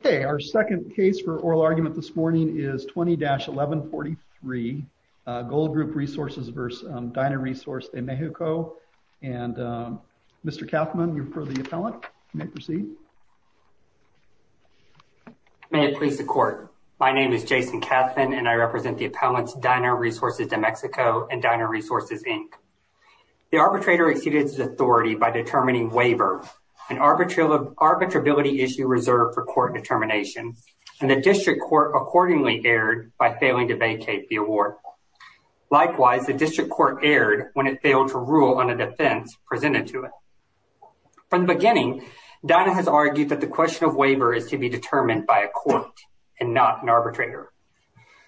Okay, our second case for oral argument this morning is 20-1143 Goldgroup Resources v. Dynaresource De Mexico, and Mr. Kauffman, you're for the appellant, you may proceed. May it please the court. My name is Jason Kauffman, and I represent the appellants Dynaresource De Mexico and Dynaresource Inc. The arbitrator exceeded his authority by determining waiver, an arbitrability issue reserved for court determination, and the district court accordingly erred by failing to vacate the award. Likewise, the district court erred when it failed to rule on a defense presented to it. From the beginning, Dyna has argued that the question of waiver is to be determined by a court and not an arbitrator.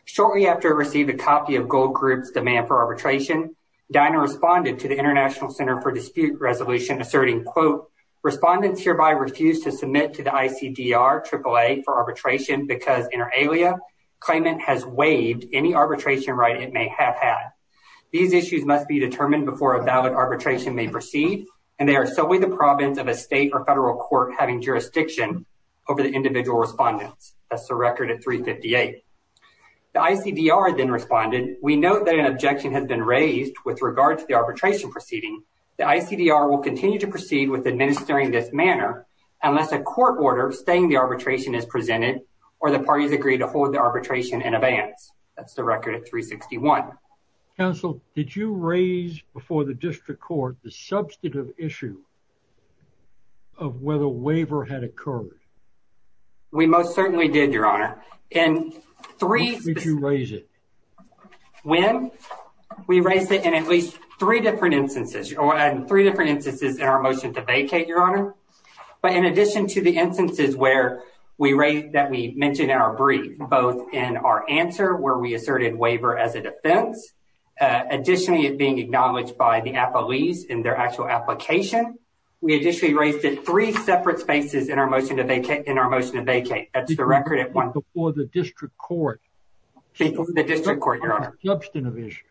Shortly after it received a copy of Goldgroup's demand for arbitration, Dyna responded to the International Center for Dispute Resolution asserting, quote, Respondents hereby refuse to submit to the ICDR AAA for arbitration because, inter alia, claimant has waived any arbitration right it may have had. These issues must be determined before a valid arbitration may proceed, and they are solely the province of a state or federal court having jurisdiction over the individual respondents. That's the record at 358. The ICDR then responded, We note that an objection has been raised with regard to the arbitration proceeding. The ICDR will continue to proceed with administering this manner unless a court order abstaining the arbitration is presented or the parties agree to hold the arbitration in advance. That's the record at 361. Counsel, did you raise before the district court the substantive issue of whether waiver had occurred? We most certainly did, Your Honor. When did you raise it? When? We raised it in at least three different instances in our motion to vacate, Your Honor. But in addition to the instances that we mentioned in our brief, both in our answer where we asserted waiver as a defense, additionally, it being acknowledged by the appellees in their actual application. We additionally raised it three separate spaces in our motion to vacate. That's the record. Before the district court. The district court, Your Honor. Substantive issue.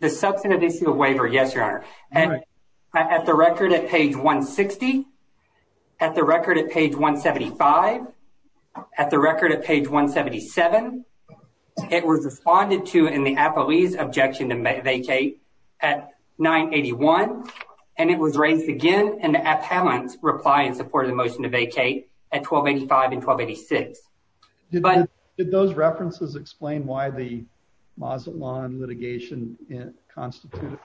The substantive issue of waiver, yes, Your Honor. At the record at page 160. At the record at page 175. At the record at page 177. It was responded to in the appellee's objection to vacate at 981. And it was raised again in the appellant's reply in support of the motion to vacate at 1285 and 1286. Did those references explain why the Mazatlan litigation constituted?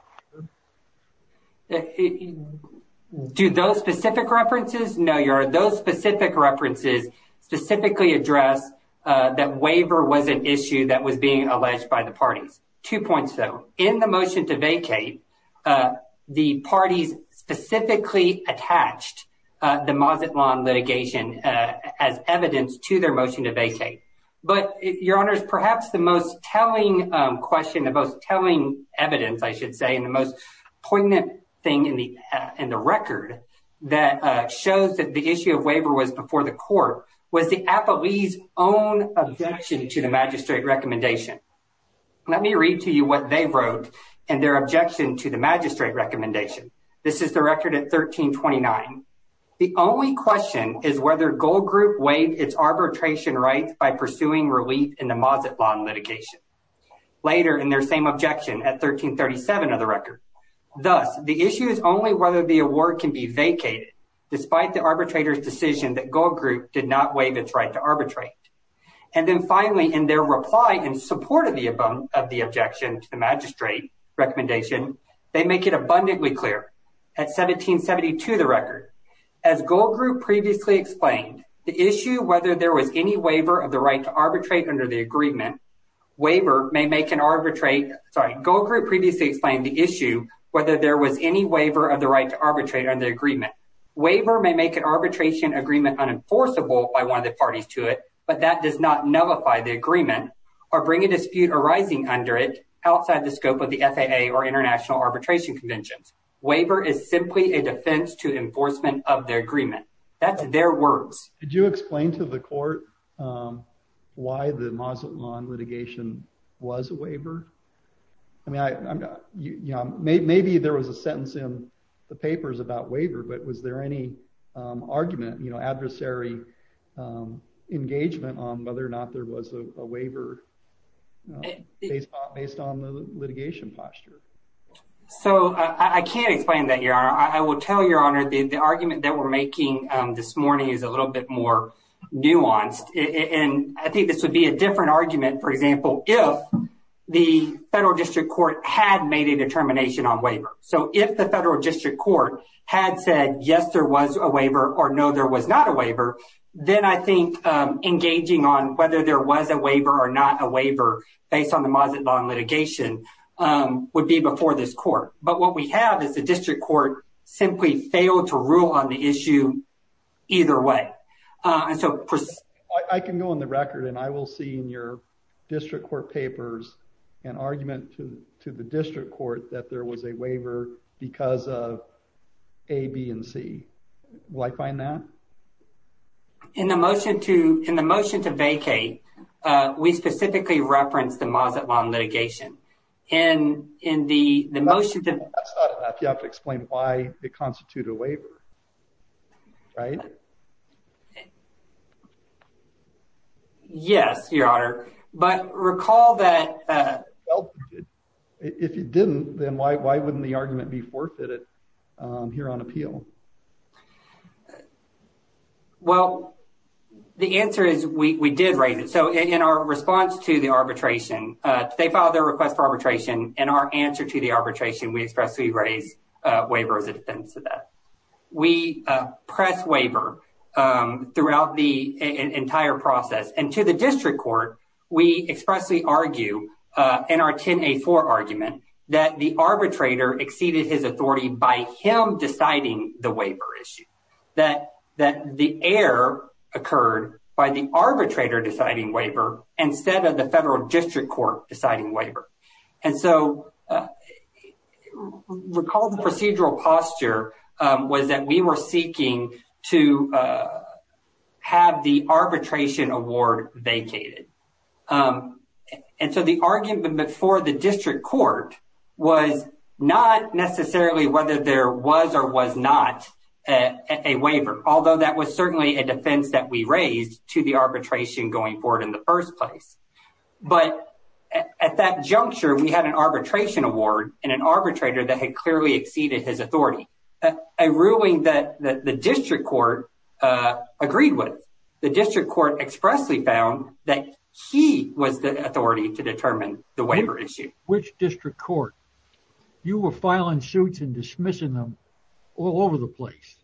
Do those specific references? No, Your Honor. Those specific references specifically address that waiver was an issue that was being alleged by the parties. Two points, though. In the motion to vacate, the parties specifically attached the Mazatlan litigation as evidence to their motion to vacate. But, Your Honor, perhaps the most telling question, the most telling evidence, I should say, and the most poignant thing in the record that shows that the issue of waiver was before the court, was the appellee's own objection to the magistrate recommendation. Let me read to you what they wrote in their objection to the magistrate recommendation. This is the record at 1329. The only question is whether Gold Group waived its arbitration rights by pursuing relief in the Mazatlan litigation. Later in their same objection at 1337 of the record. Thus, the issue is only whether the award can be vacated, despite the arbitrator's decision that Gold Group did not waive its right to arbitrate. And then finally, in their reply in support of the objection to the magistrate recommendation, they make it abundantly clear. At 1772 of the record, as Gold Group previously explained, the issue whether there was any waiver of the right to arbitrate under the agreement. Gold Group previously explained the issue whether there was any waiver of the right to arbitrate under the agreement. Waiver may make an arbitration agreement unenforceable by one of the parties to it, but that does not nullify the agreement or bring a dispute arising under it outside the scope of the FAA or international arbitration conventions. Waiver is simply a defense to enforcement of their agreement. That's their words. Did you explain to the court why the Mazatlan litigation was a waiver? I mean, maybe there was a sentence in the papers about waiver, but was there any argument, adversary engagement on whether or not there was a waiver based on the litigation posture? So I can't explain that, Your Honor. I will tell Your Honor the argument that we're making this morning is a little bit more nuanced. And I think this would be a different argument, for example, if the federal district court had made a determination on waiver. So if the federal district court had said, yes, there was a waiver or no, there was not a waiver, then I think engaging on whether there was a waiver or not a waiver based on the Mazatlan litigation would be before this court. But what we have is the district court simply failed to rule on the issue either way. I can go on the record and I will see in your district court papers an argument to the district court that there was a waiver because of A, B, and C. Will I find that? In the motion to vacate, we specifically referenced the Mazatlan litigation. That's not enough. You have to explain why it constituted a waiver. Right? Yes, Your Honor. But recall that. If it didn't, then why wouldn't the argument be forfeited here on appeal? Well, the answer is we did raise it. So in our response to the arbitration, they filed their request for arbitration. In our answer to the arbitration, we expressly raise waiver as a defense of that. We press waiver throughout the entire process. And to the district court, we expressly argue in our 10-A-4 argument that the arbitrator exceeded his authority by him deciding the waiver issue, that the error occurred by the arbitrator deciding waiver instead of the federal district court deciding waiver. And so recall the procedural posture was that we were seeking to have the arbitration award vacated. And so the argument before the district court was not necessarily whether there was or was not a waiver, although that was certainly a defense that we raised to the arbitration going forward in the first place. But at that juncture, we had an arbitration award and an arbitrator that had clearly exceeded his authority. A ruling that the district court agreed with. The district court expressly found that he was the authority to determine the waiver issue. Which district court? You were filing suits and dismissing them all over the place.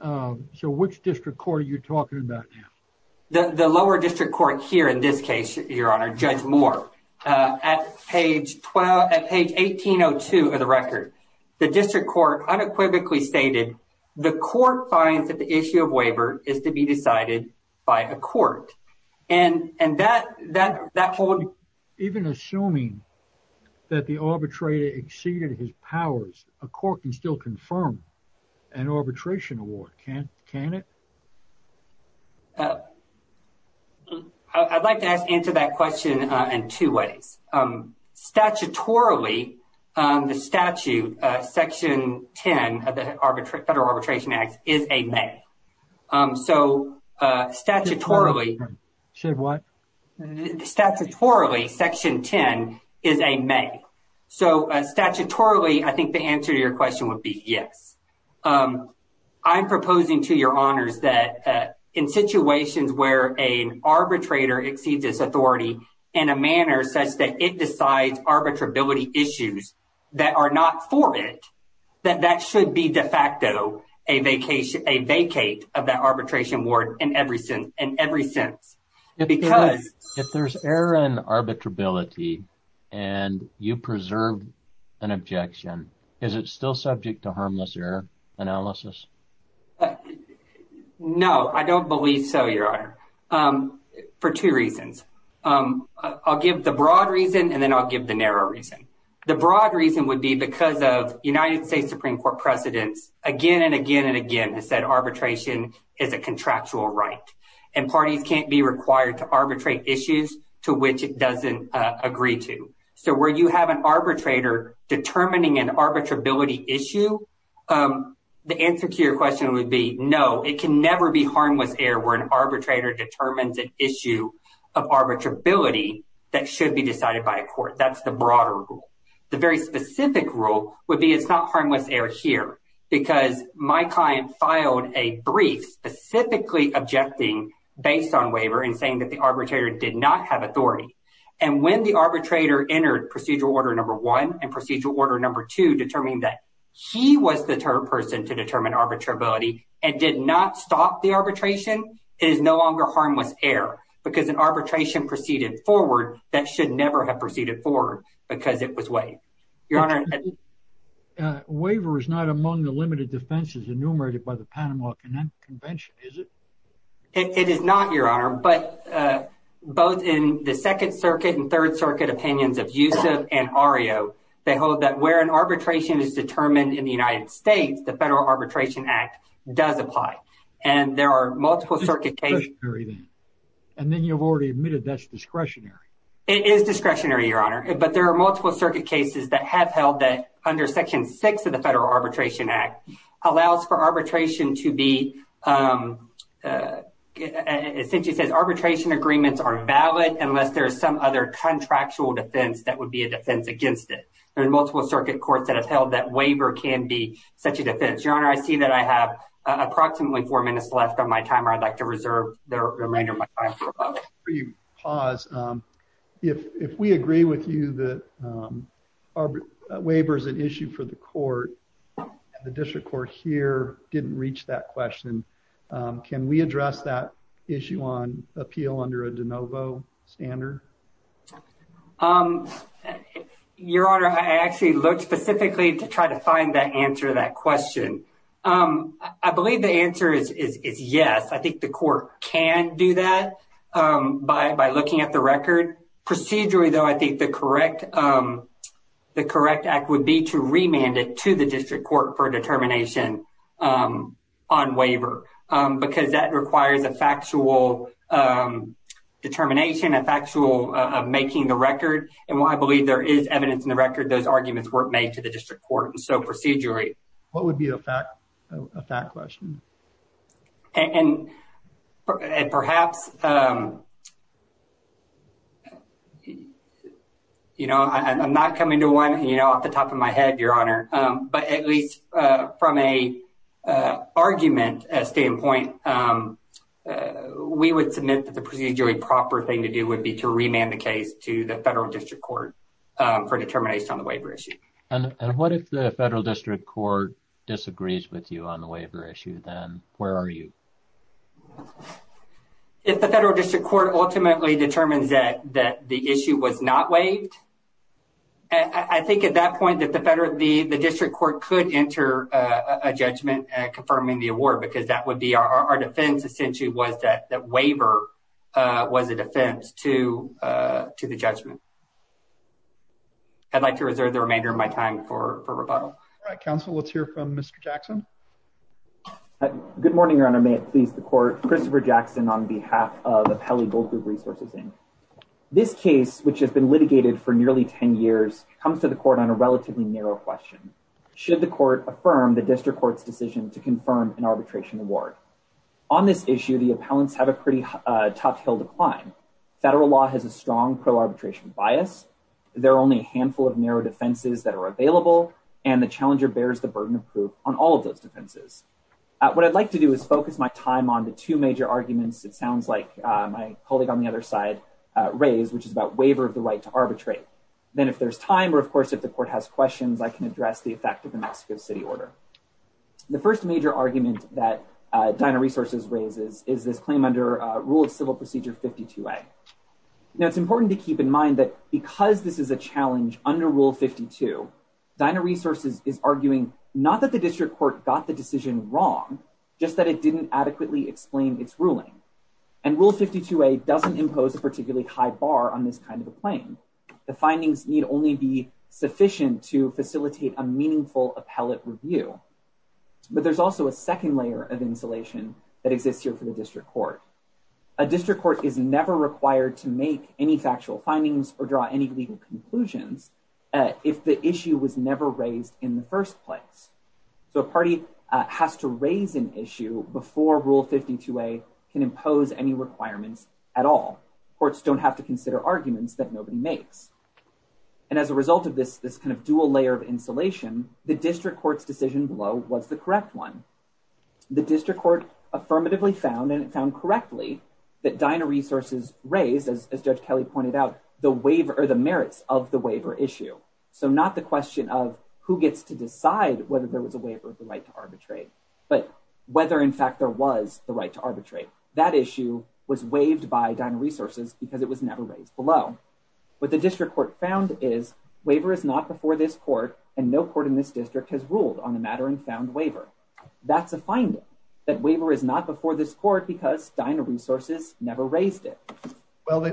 So which district court are you talking about now? The lower district court here in this case, Your Honor, Judge Moore. At page 1802 of the record, the district court unequivocally stated, the court finds that the issue of waiver is to be decided by a court. And that holds. Even assuming that the arbitrator exceeded his powers, a court can still confirm an arbitration award, can't it? I'd like to answer that question in two ways. Statutorily, the statute, Section 10 of the Federal Arbitration Act, is a may. So statutorily, Section 10 is a may. So statutorily, I think the answer to your question would be yes. I'm proposing to Your Honors that in situations where an arbitrator exceeds his authority in a manner such that it decides arbitrability issues that are not for it, that that should be de facto a vacate of that arbitration award in every sense. If there's error in arbitrability and you preserve an objection, is it still subject to harmless error analysis? No, I don't believe so, Your Honor, for two reasons. I'll give the broad reason and then I'll give the narrow reason. The broad reason would be because of United States Supreme Court precedents again and again and again has said arbitration is a contractual right. And parties can't be required to arbitrate issues to which it doesn't agree to. So where you have an arbitrator determining an arbitrability issue, the answer to your question would be no. It can never be harmless error where an arbitrator determines an issue of arbitrability that should be decided by a court. That's the broader rule. The very specific rule would be it's not harmless error here because my client filed a brief specifically objecting based on waiver and saying that the arbitrator did not have authority. And when the arbitrator entered procedural order number one and procedural order number two, determining that he was the person to determine arbitrability and did not stop the arbitration is no longer harmless error because an arbitration proceeded forward. That should never have proceeded forward because it was way, Your Honor. Waiver is not among the limited defenses enumerated by the Panama Convention, is it? It is not, Your Honor, but both in the Second Circuit and Third Circuit opinions of Yousef and Ario, they hold that where an arbitration is determined in the United States, the Federal Arbitration Act does apply. And there are multiple circuit cases. And then you've already admitted that's discretionary. It is discretionary, Your Honor, but there are multiple circuit cases that have held that under Section six of the Federal Arbitration Act allows for arbitration to be essentially says arbitration agreements are valid unless there is some other contractual defense that would be a defense against it. There are multiple circuit courts that have held that waiver can be such a defense. Your Honor, I see that I have approximately four minutes left on my timer. I'd like to reserve the remainder of my time. Pause. If we agree with you that our waiver is an issue for the court, the district court here didn't reach that question. Can we address that issue on appeal under a de novo standard? Your Honor, I actually looked specifically to try to find that answer that question. I believe the answer is yes. I think the court can do that by looking at the record. Procedurally, though, I think the correct the correct act would be to remand it to the district court for determination on waiver because that requires a factual determination, a factual making the record. And while I believe there is evidence in the record, those arguments were made to the district court. What would be a fact question? And perhaps, you know, I'm not coming to one off the top of my head, Your Honor. But at least from a argument standpoint, we would submit that the procedurally proper thing to do would be to remand the case to the federal district court for determination on the waiver issue. And what if the federal district court disagrees with you on the waiver issue, then where are you? If the federal district court ultimately determines that that the issue was not waived. I think at that point that the better the district court could enter a judgment confirming the award, because that would be our defense. Essentially, was that that waiver was a defense to to the judgment. I'd like to reserve the remainder of my time for rebuttal. Council, let's hear from Mr. Jackson. Good morning, Your Honor. May it please the court. Christopher Jackson on behalf of the Pelley Gold Group Resources Inc. This case, which has been litigated for nearly 10 years, comes to the court on a relatively narrow question. Should the court affirm the district court's decision to confirm an arbitration award on this issue? The appellants have a pretty tough hill to climb. Federal law has a strong pro-arbitration bias. There are only a handful of narrow defenses that are available, and the challenger bears the burden of proof on all of those defenses. What I'd like to do is focus my time on the two major arguments. It sounds like my colleague on the other side raised, which is about waiver of the right to arbitrate. Then if there's time or, of course, if the court has questions, I can address the effect of the Mexico City order. The first major argument that Dinah Resources raises is this claim under Rule of Civil Procedure 52A. Now, it's important to keep in mind that because this is a challenge under Rule 52, Dinah Resources is arguing not that the district court got the decision wrong, just that it didn't adequately explain its ruling. And Rule 52A doesn't impose a particularly high bar on this kind of a claim. The findings need only be sufficient to facilitate a meaningful appellate review. But there's also a second layer of insulation that exists here for the district court. A district court is never required to make any factual findings or draw any legal conclusions if the issue was never raised in the first place. So a party has to raise an issue before Rule 52A can impose any requirements at all. Courts don't have to consider arguments that nobody makes. And as a result of this kind of dual layer of insulation, the district court's decision below was the correct one. The district court affirmatively found, and it found correctly, that Dinah Resources raised, as Judge Kelly pointed out, the merits of the waiver issue. So not the question of who gets to decide whether there was a waiver of the right to arbitrate, but whether, in fact, there was the right to arbitrate. That issue was waived by Dinah Resources because it was never raised below. What the district court found is, waiver is not before this court, and no court in this district has ruled on the matter and found waiver. That's a finding, that waiver is not before this court because Dinah Resources never raised it. Well, they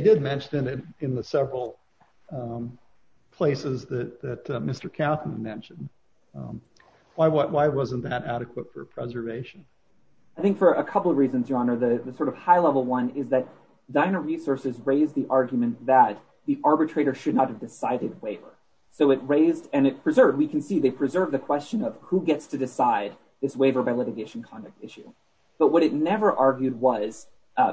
did mention it in the several places that Mr. Kauffman mentioned. Why wasn't that adequate for preservation? I think for a couple of reasons, Your Honor. The sort of high-level one is that Dinah Resources raised the argument that the arbitrator should not have decided waiver. So it raised and it preserved. We can see they preserved the question of who gets to decide this waiver by litigation conduct issue. But what it never argued was,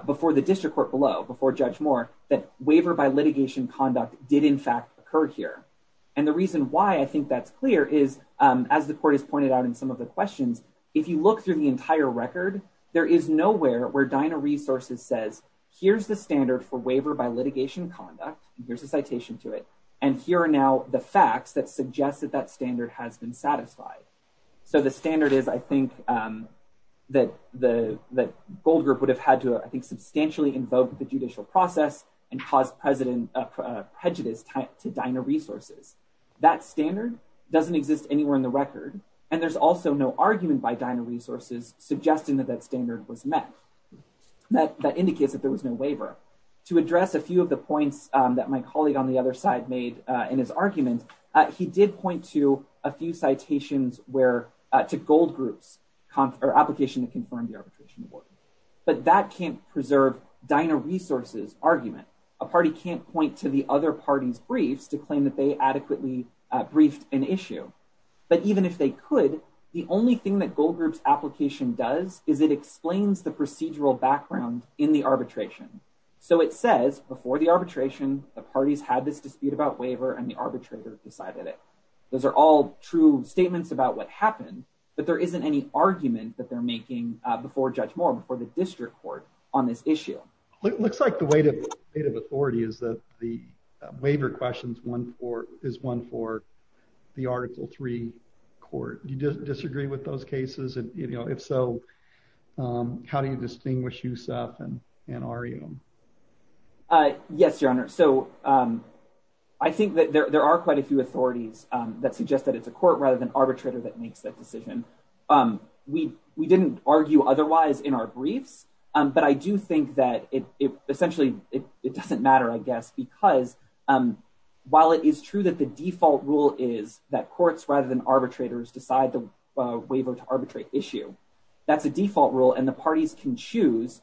before the district court below, before Judge Moore, that waiver by litigation conduct did, in fact, occur here. And the reason why I think that's clear is, as the court has pointed out in some of the questions, if you look through the entire record, there is nowhere where Dinah Resources says, here's the standard for waiver by litigation conduct. Here's a citation to it. And here are now the facts that suggest that that standard has been satisfied. So the standard is, I think, that the Gold Group would have had to, I think, substantially invoke the judicial process and cause prejudice to Dinah Resources. That standard doesn't exist anywhere in the record. And there's also no argument by Dinah Resources suggesting that that standard was met. That indicates that there was no waiver. To address a few of the points that my colleague on the other side made in his argument, he did point to a few citations to Gold Group's application that confirmed the arbitration award. But that can't preserve Dinah Resources' argument. A party can't point to the other parties' briefs to claim that they adequately briefed an issue. But even if they could, the only thing that Gold Group's application does is it explains the procedural background in the arbitration. So it says, before the arbitration, the parties had this dispute about waiver and the arbitrator decided it. Those are all true statements about what happened, but there isn't any argument that they're making before Judge Moore, before the district court, on this issue. It looks like the weight of authority is that the waiver question is one for the Article III court. Do you disagree with those cases? And if so, how do you distinguish Yousef and Ariyam? Yes, Your Honor. So I think that there are quite a few authorities that suggest that it's a court rather than arbitrator that makes that decision. We didn't argue otherwise in our briefs, but I do think that essentially it doesn't matter, I guess, because while it is true that the default rule is that courts rather than arbitrators decide the waiver to arbitrate issue, that's a default rule and the parties can choose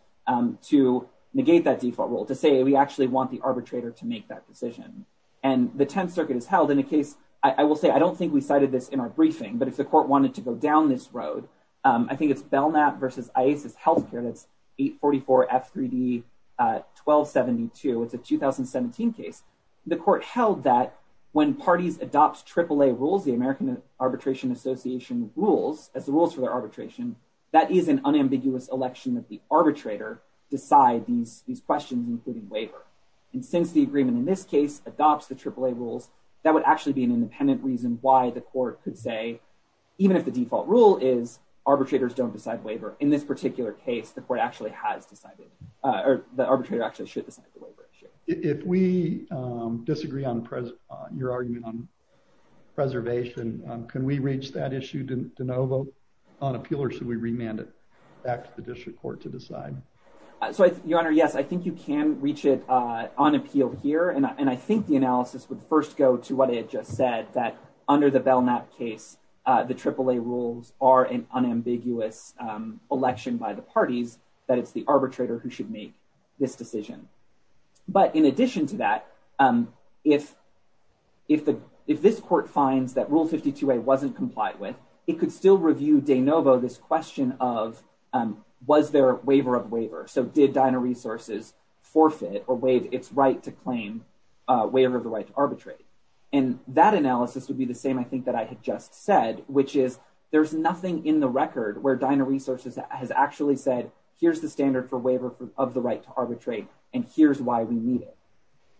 to negate that default rule, to say we actually want the arbitrator to make that decision. And the Tenth Circuit has held in a case, I will say, I don't think we cited this in our briefing, but if the court wanted to go down this road, I think it's Belknap versus IASIS Health Care, that's 844 F3D 1272. It's a 2017 case. The court held that when parties adopt AAA rules, the American Arbitration Association rules, as the rules for their arbitration, that is an unambiguous election that the arbitrator decide these questions, including waiver. And since the agreement in this case adopts the AAA rules, that would actually be an independent reason why the court could say, even if the default rule is arbitrators don't decide waiver, in this particular case, the court actually has decided, or the arbitrator actually should decide the waiver issue. If we disagree on your argument on preservation, can we reach that issue de novo on appeal or should we remand it back to the district court to decide? So, Your Honor, yes, I think you can reach it on appeal here. And I think the analysis would first go to what I had just said, that under the Belknap case, the AAA rules are an unambiguous election by the parties, that it's the arbitrator who should make this decision. But in addition to that, if this court finds that Rule 52A wasn't complied with, it could still review de novo this question of, was there a waiver of waiver? So did Dinah Resources forfeit or waive its right to claim waiver of the right to arbitrate? And that analysis would be the same, I think, that I had just said, which is there's nothing in the record where Dinah Resources has actually said, here's the standard for waiver of the right to arbitrate, and here's why we need it.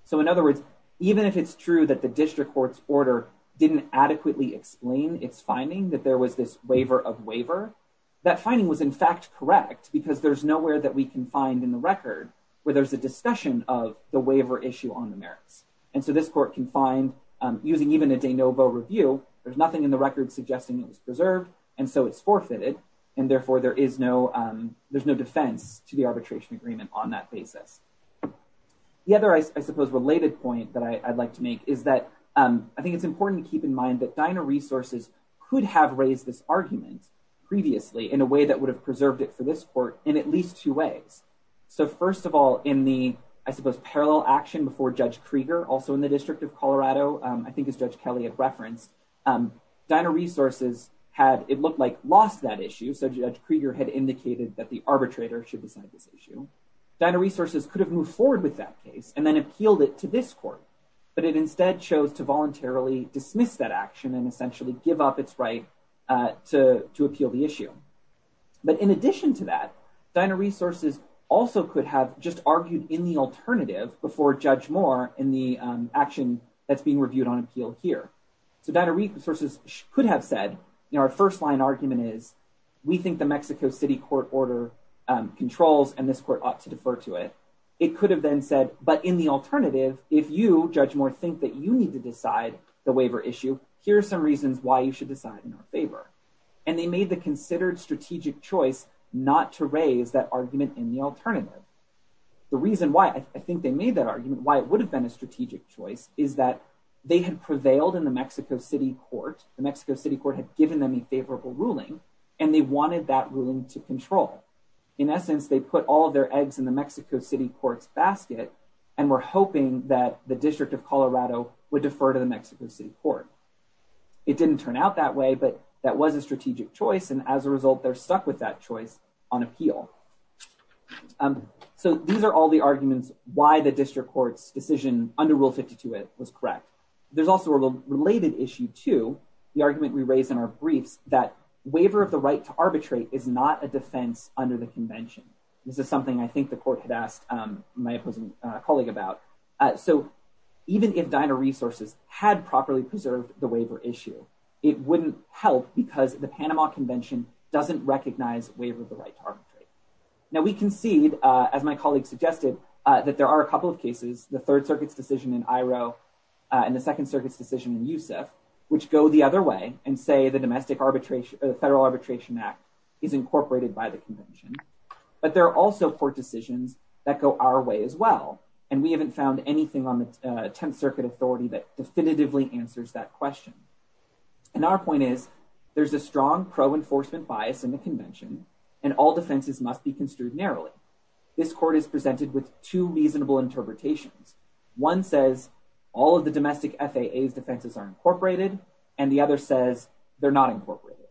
So in other words, even if it's true that the district court's order didn't adequately explain its finding that there was this waiver of waiver, that finding was in fact correct, because there's nowhere that we can find in the record where there's a discussion of the waiver issue on the merits. And so this court can find, using even a de novo review, there's nothing in the record suggesting it was preserved, and so it's forfeited, and therefore there's no defense to the arbitration agreement on that basis. The other, I suppose, related point that I'd like to make is that I think it's important to keep in mind that Dinah Resources could have raised this argument previously in a way that would have preserved it for this court in at least two ways. So first of all, in the, I suppose, parallel action before Judge Krieger, also in the District of Colorado, I think as Judge Kelly had referenced, Dinah Resources had, it looked like, lost that issue. So Judge Krieger had indicated that the arbitrator should decide this issue. Dinah Resources could have moved forward with that case and then appealed it to this court, but it instead chose to voluntarily dismiss that action and essentially give up its right to appeal the issue. But in addition to that, Dinah Resources also could have just argued in the alternative before Judge Moore in the action that's being reviewed on appeal here. So Dinah Resources could have said, you know, our first line argument is, we think the Mexico City court order controls and this court ought to defer to it. It could have then said, but in the alternative, if you, Judge Moore, think that you need to decide the waiver issue, here are some reasons why you should decide in our favor. And they made the considered strategic choice not to raise that argument in the alternative. The reason why I think they made that argument, why it would have been a strategic choice, is that they had prevailed in the Mexico City court. The Mexico City court had given them a favorable ruling and they wanted that ruling to control. In essence, they put all of their eggs in the Mexico City court's basket and were hoping that the District of Colorado would defer to the Mexico City court. It didn't turn out that way, but that was a strategic choice. And as a result, they're stuck with that choice on appeal. So these are all the arguments why the district court's decision under Rule 52 was correct. There's also a related issue to the argument we raised in our briefs that waiver of the right to arbitrate is not a defense under the convention. This is something I think the court had asked my opposing colleague about. So even if Dinah Resources had properly preserved the waiver issue, it wouldn't help because the Panama Convention doesn't recognize waiver of the right to arbitrate. Now we concede, as my colleague suggested, that there are a couple of cases, the Third Circuit's decision in Iroh and the Second Circuit's decision in Yousef, which go the other way and say the Federal Arbitration Act is incorporated by the convention. But there are also court decisions that go our way as well. And we haven't found anything on the Tenth Circuit authority that definitively answers that question. And our point is there's a strong pro-enforcement bias in the convention and all defenses must be construed narrowly. This court is presented with two reasonable interpretations. One says all of the domestic FAA's defenses are incorporated and the other says they're not incorporated.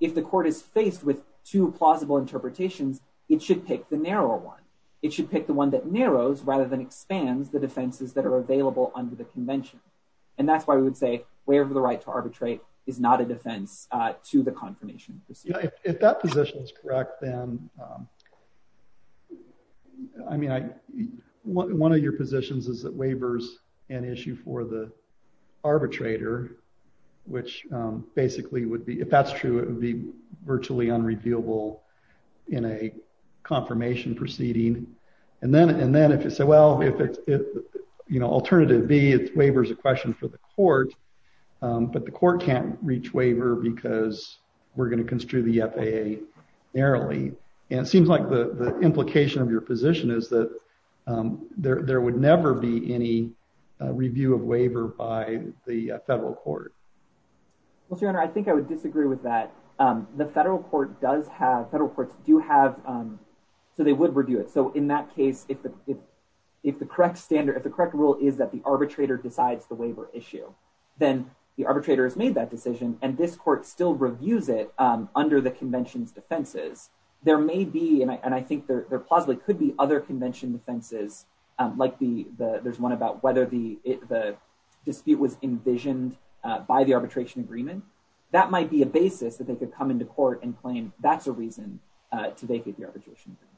If the court is faced with two plausible interpretations, it should pick the narrower one. It should pick the one that narrows rather than expands the defenses that are available under the convention. And that's why we would say waiver of the right to arbitrate is not a defense to the confirmation procedure. If that position is correct, then, I mean, one of your positions is that waiver is an issue for the arbitrator, which basically would be, if that's true, it would be virtually unrevealable in a confirmation proceeding. And then if you say, well, if it's, you know, alternative B, it's waiver is a question for the court, but the court can't reach waiver because we're going to construe the FAA narrowly. And it seems like the implication of your position is that there would never be any review of waiver by the federal court. Well, Your Honor, I think I would disagree with that. The federal court does have, federal courts do have, so they would review it. So in that case, if the correct standard, if the correct rule is that the arbitrator decides the waiver issue, then the arbitrator has made that decision. And this court still reviews it under the convention's defenses. There may be, and I think there possibly could be other convention defenses, like there's one about whether the dispute was envisioned by the arbitration agreement. That might be a basis that they could come into court and claim that's a reason to vacate the arbitration agreement.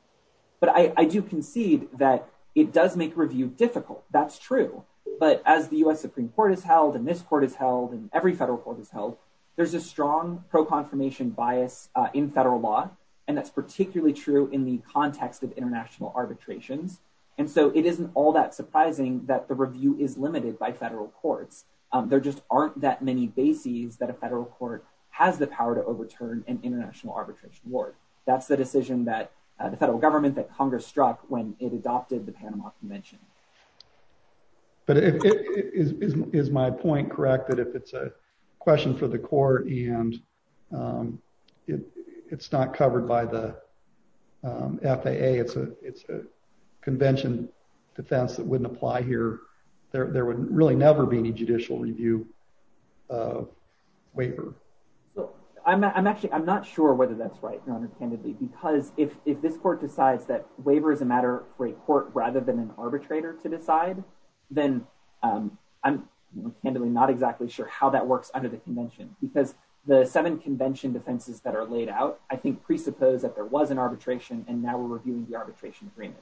But I do concede that it does make review difficult. That's true. But as the U.S. Supreme Court has held, and this court has held, and every federal court has held, there's a strong pro-confirmation bias in federal law. And that's particularly true in the context of international arbitrations. And so it isn't all that surprising that the review is limited by federal courts. There just aren't that many bases that a federal court has the power to overturn an international arbitration war. That's the decision that the federal government, that Congress struck when it adopted the Panama Convention. But is my point correct that if it's a question for the court and it's not covered by the FAA, it's a convention defense that wouldn't apply here, there would really never be any judicial review waiver. I'm actually I'm not sure whether that's right, Your Honor, candidly, because if this court decides that waiver is a matter for a court rather than an arbitrator to decide, then I'm candidly not exactly sure how that works under the convention, because the seven convention defenses that are laid out, I think presuppose that there was an arbitration and now we're reviewing the arbitration agreement.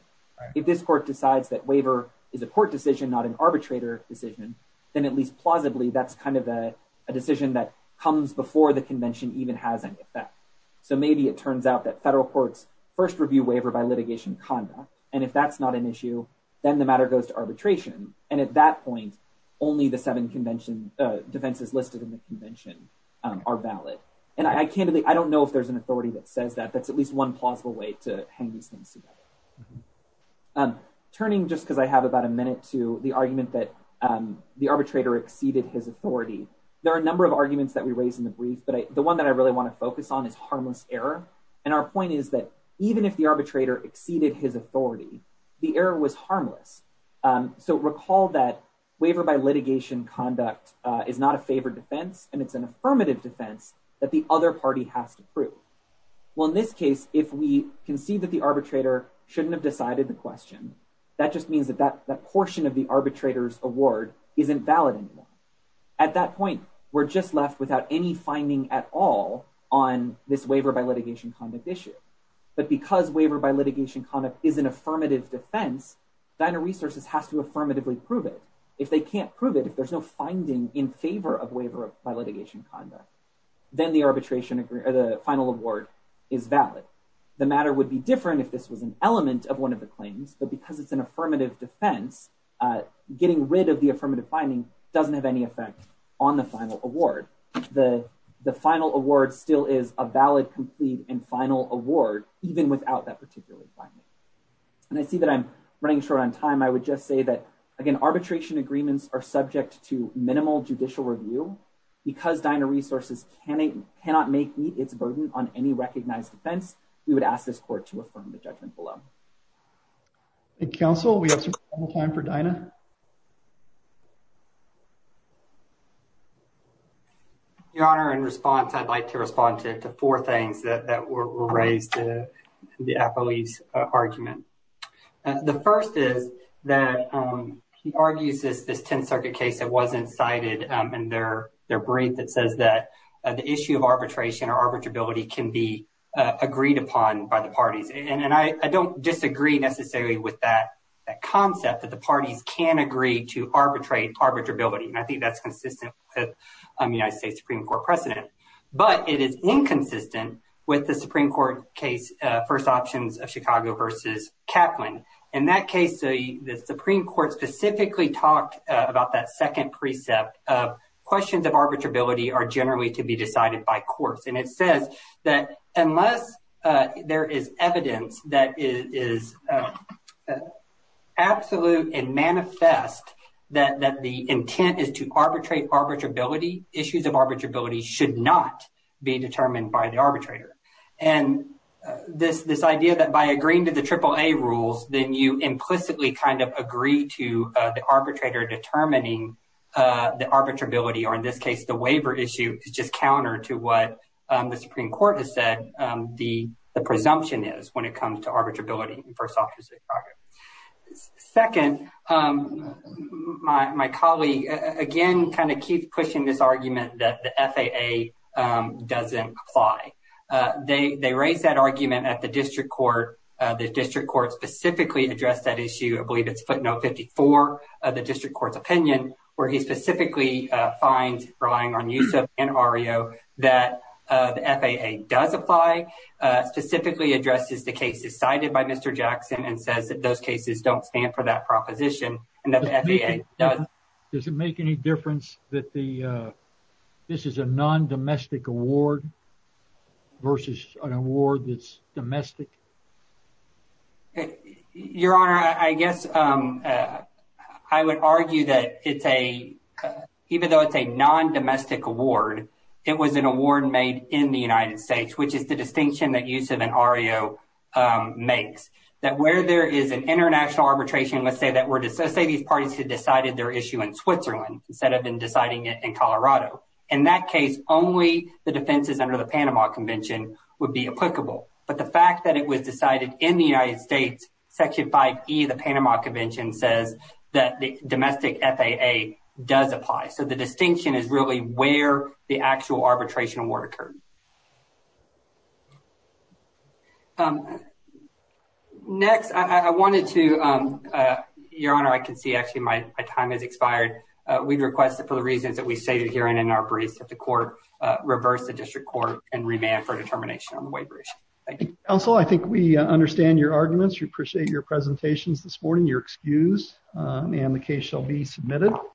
If this court decides that waiver is a court decision, not an arbitrator decision, then at least plausibly, that's kind of a decision that comes before the convention even has any effect. So maybe it turns out that federal courts first review waiver by litigation conduct. And if that's not an issue, then the matter goes to arbitration. And at that point, only the seven convention defenses listed in the convention are valid. And I can't really I don't know if there's an authority that says that that's at least one plausible way to hang these things together. Turning just because I have about a minute to the argument that the arbitrator exceeded his authority. There are a number of arguments that we raised in the brief, but the one that I really want to focus on is harmless error. And our point is that even if the arbitrator exceeded his authority, the error was harmless. So recall that waiver by litigation conduct is not a favored defense and it's an affirmative defense that the other party has to prove. Well, in this case, if we can see that the arbitrator shouldn't have decided the question, that just means that that portion of the arbitrator's award isn't valid anymore. At that point, we're just left without any finding at all on this waiver by litigation conduct issue. But because waiver by litigation conduct is an affirmative defense, Diner Resources has to affirmatively prove it. If they can't prove it, if there's no finding in favor of waiver by litigation conduct, then the arbitration or the final award is valid. The matter would be different if this was an element of one of the claims. But because it's an affirmative defense, getting rid of the affirmative finding doesn't have any effect on the final award. The final award still is a valid, complete, and final award, even without that particular finding. And I see that I'm running short on time. I would just say that, again, arbitration agreements are subject to minimal judicial review. Because Diner Resources cannot meet its burden on any recognized offense, we would ask this court to affirm the judgment below. Thank you, counsel. We have some time for Dinah. Your Honor, in response, I'd like to respond to four things that were raised in the appellee's argument. The first is that he argues this 10th Circuit case that wasn't cited in their brief that says that the issue of arbitration or arbitrability can be agreed upon by the parties. And I don't disagree necessarily with that concept that the parties can agree to arbitrate arbitrability. And I think that's consistent with the United States Supreme Court precedent. But it is inconsistent with the Supreme Court case, first options of Chicago versus Kaplan. In that case, the Supreme Court specifically talked about that second precept of questions of arbitrability are generally to be decided by courts. And it says that unless there is evidence that is absolute and manifest that the intent is to arbitrate arbitrability, issues of arbitrability should not be determined by the arbitrator. And this this idea that by agreeing to the triple A rules, then you implicitly kind of agree to the arbitrator determining the arbitrability, or in this case, the waiver issue is just counter to what the Supreme Court has said the presumption is when it comes to arbitrability. Second, my colleague, again, kind of keep pushing this argument that the FAA doesn't apply. They raise that argument at the district court. The district court specifically addressed that issue. I believe it's footnote 54 of the district court's opinion where he specifically finds relying on use of an REO that the FAA does apply, specifically addresses the cases cited by Mr. Jackson and says that those cases don't stand for that proposition. Does it make any difference that the this is a non-domestic award versus an award that's domestic? Your Honor, I guess I would argue that it's a even though it's a non-domestic award, it was an award made in the United States, which is the distinction that use of an REO makes that where there is an international arbitration, let's say that were to say these parties had decided their issue in Switzerland instead of in deciding it in Colorado. In that case, only the defenses under the Panama Convention would be applicable. But the fact that it was decided in the United States, Section 5E of the Panama Convention says that the domestic FAA does apply. So the distinction is really where the actual arbitration award occurred. Next, I wanted to, Your Honor, I can see actually my time has expired. We'd request that for the reasons that we stated here and in our briefs, that the court reverse the district court and remand for determination on the waiver. Thank you. Counselor, I think we understand your arguments. We appreciate your presentations this morning. You're excused and the case shall be submitted.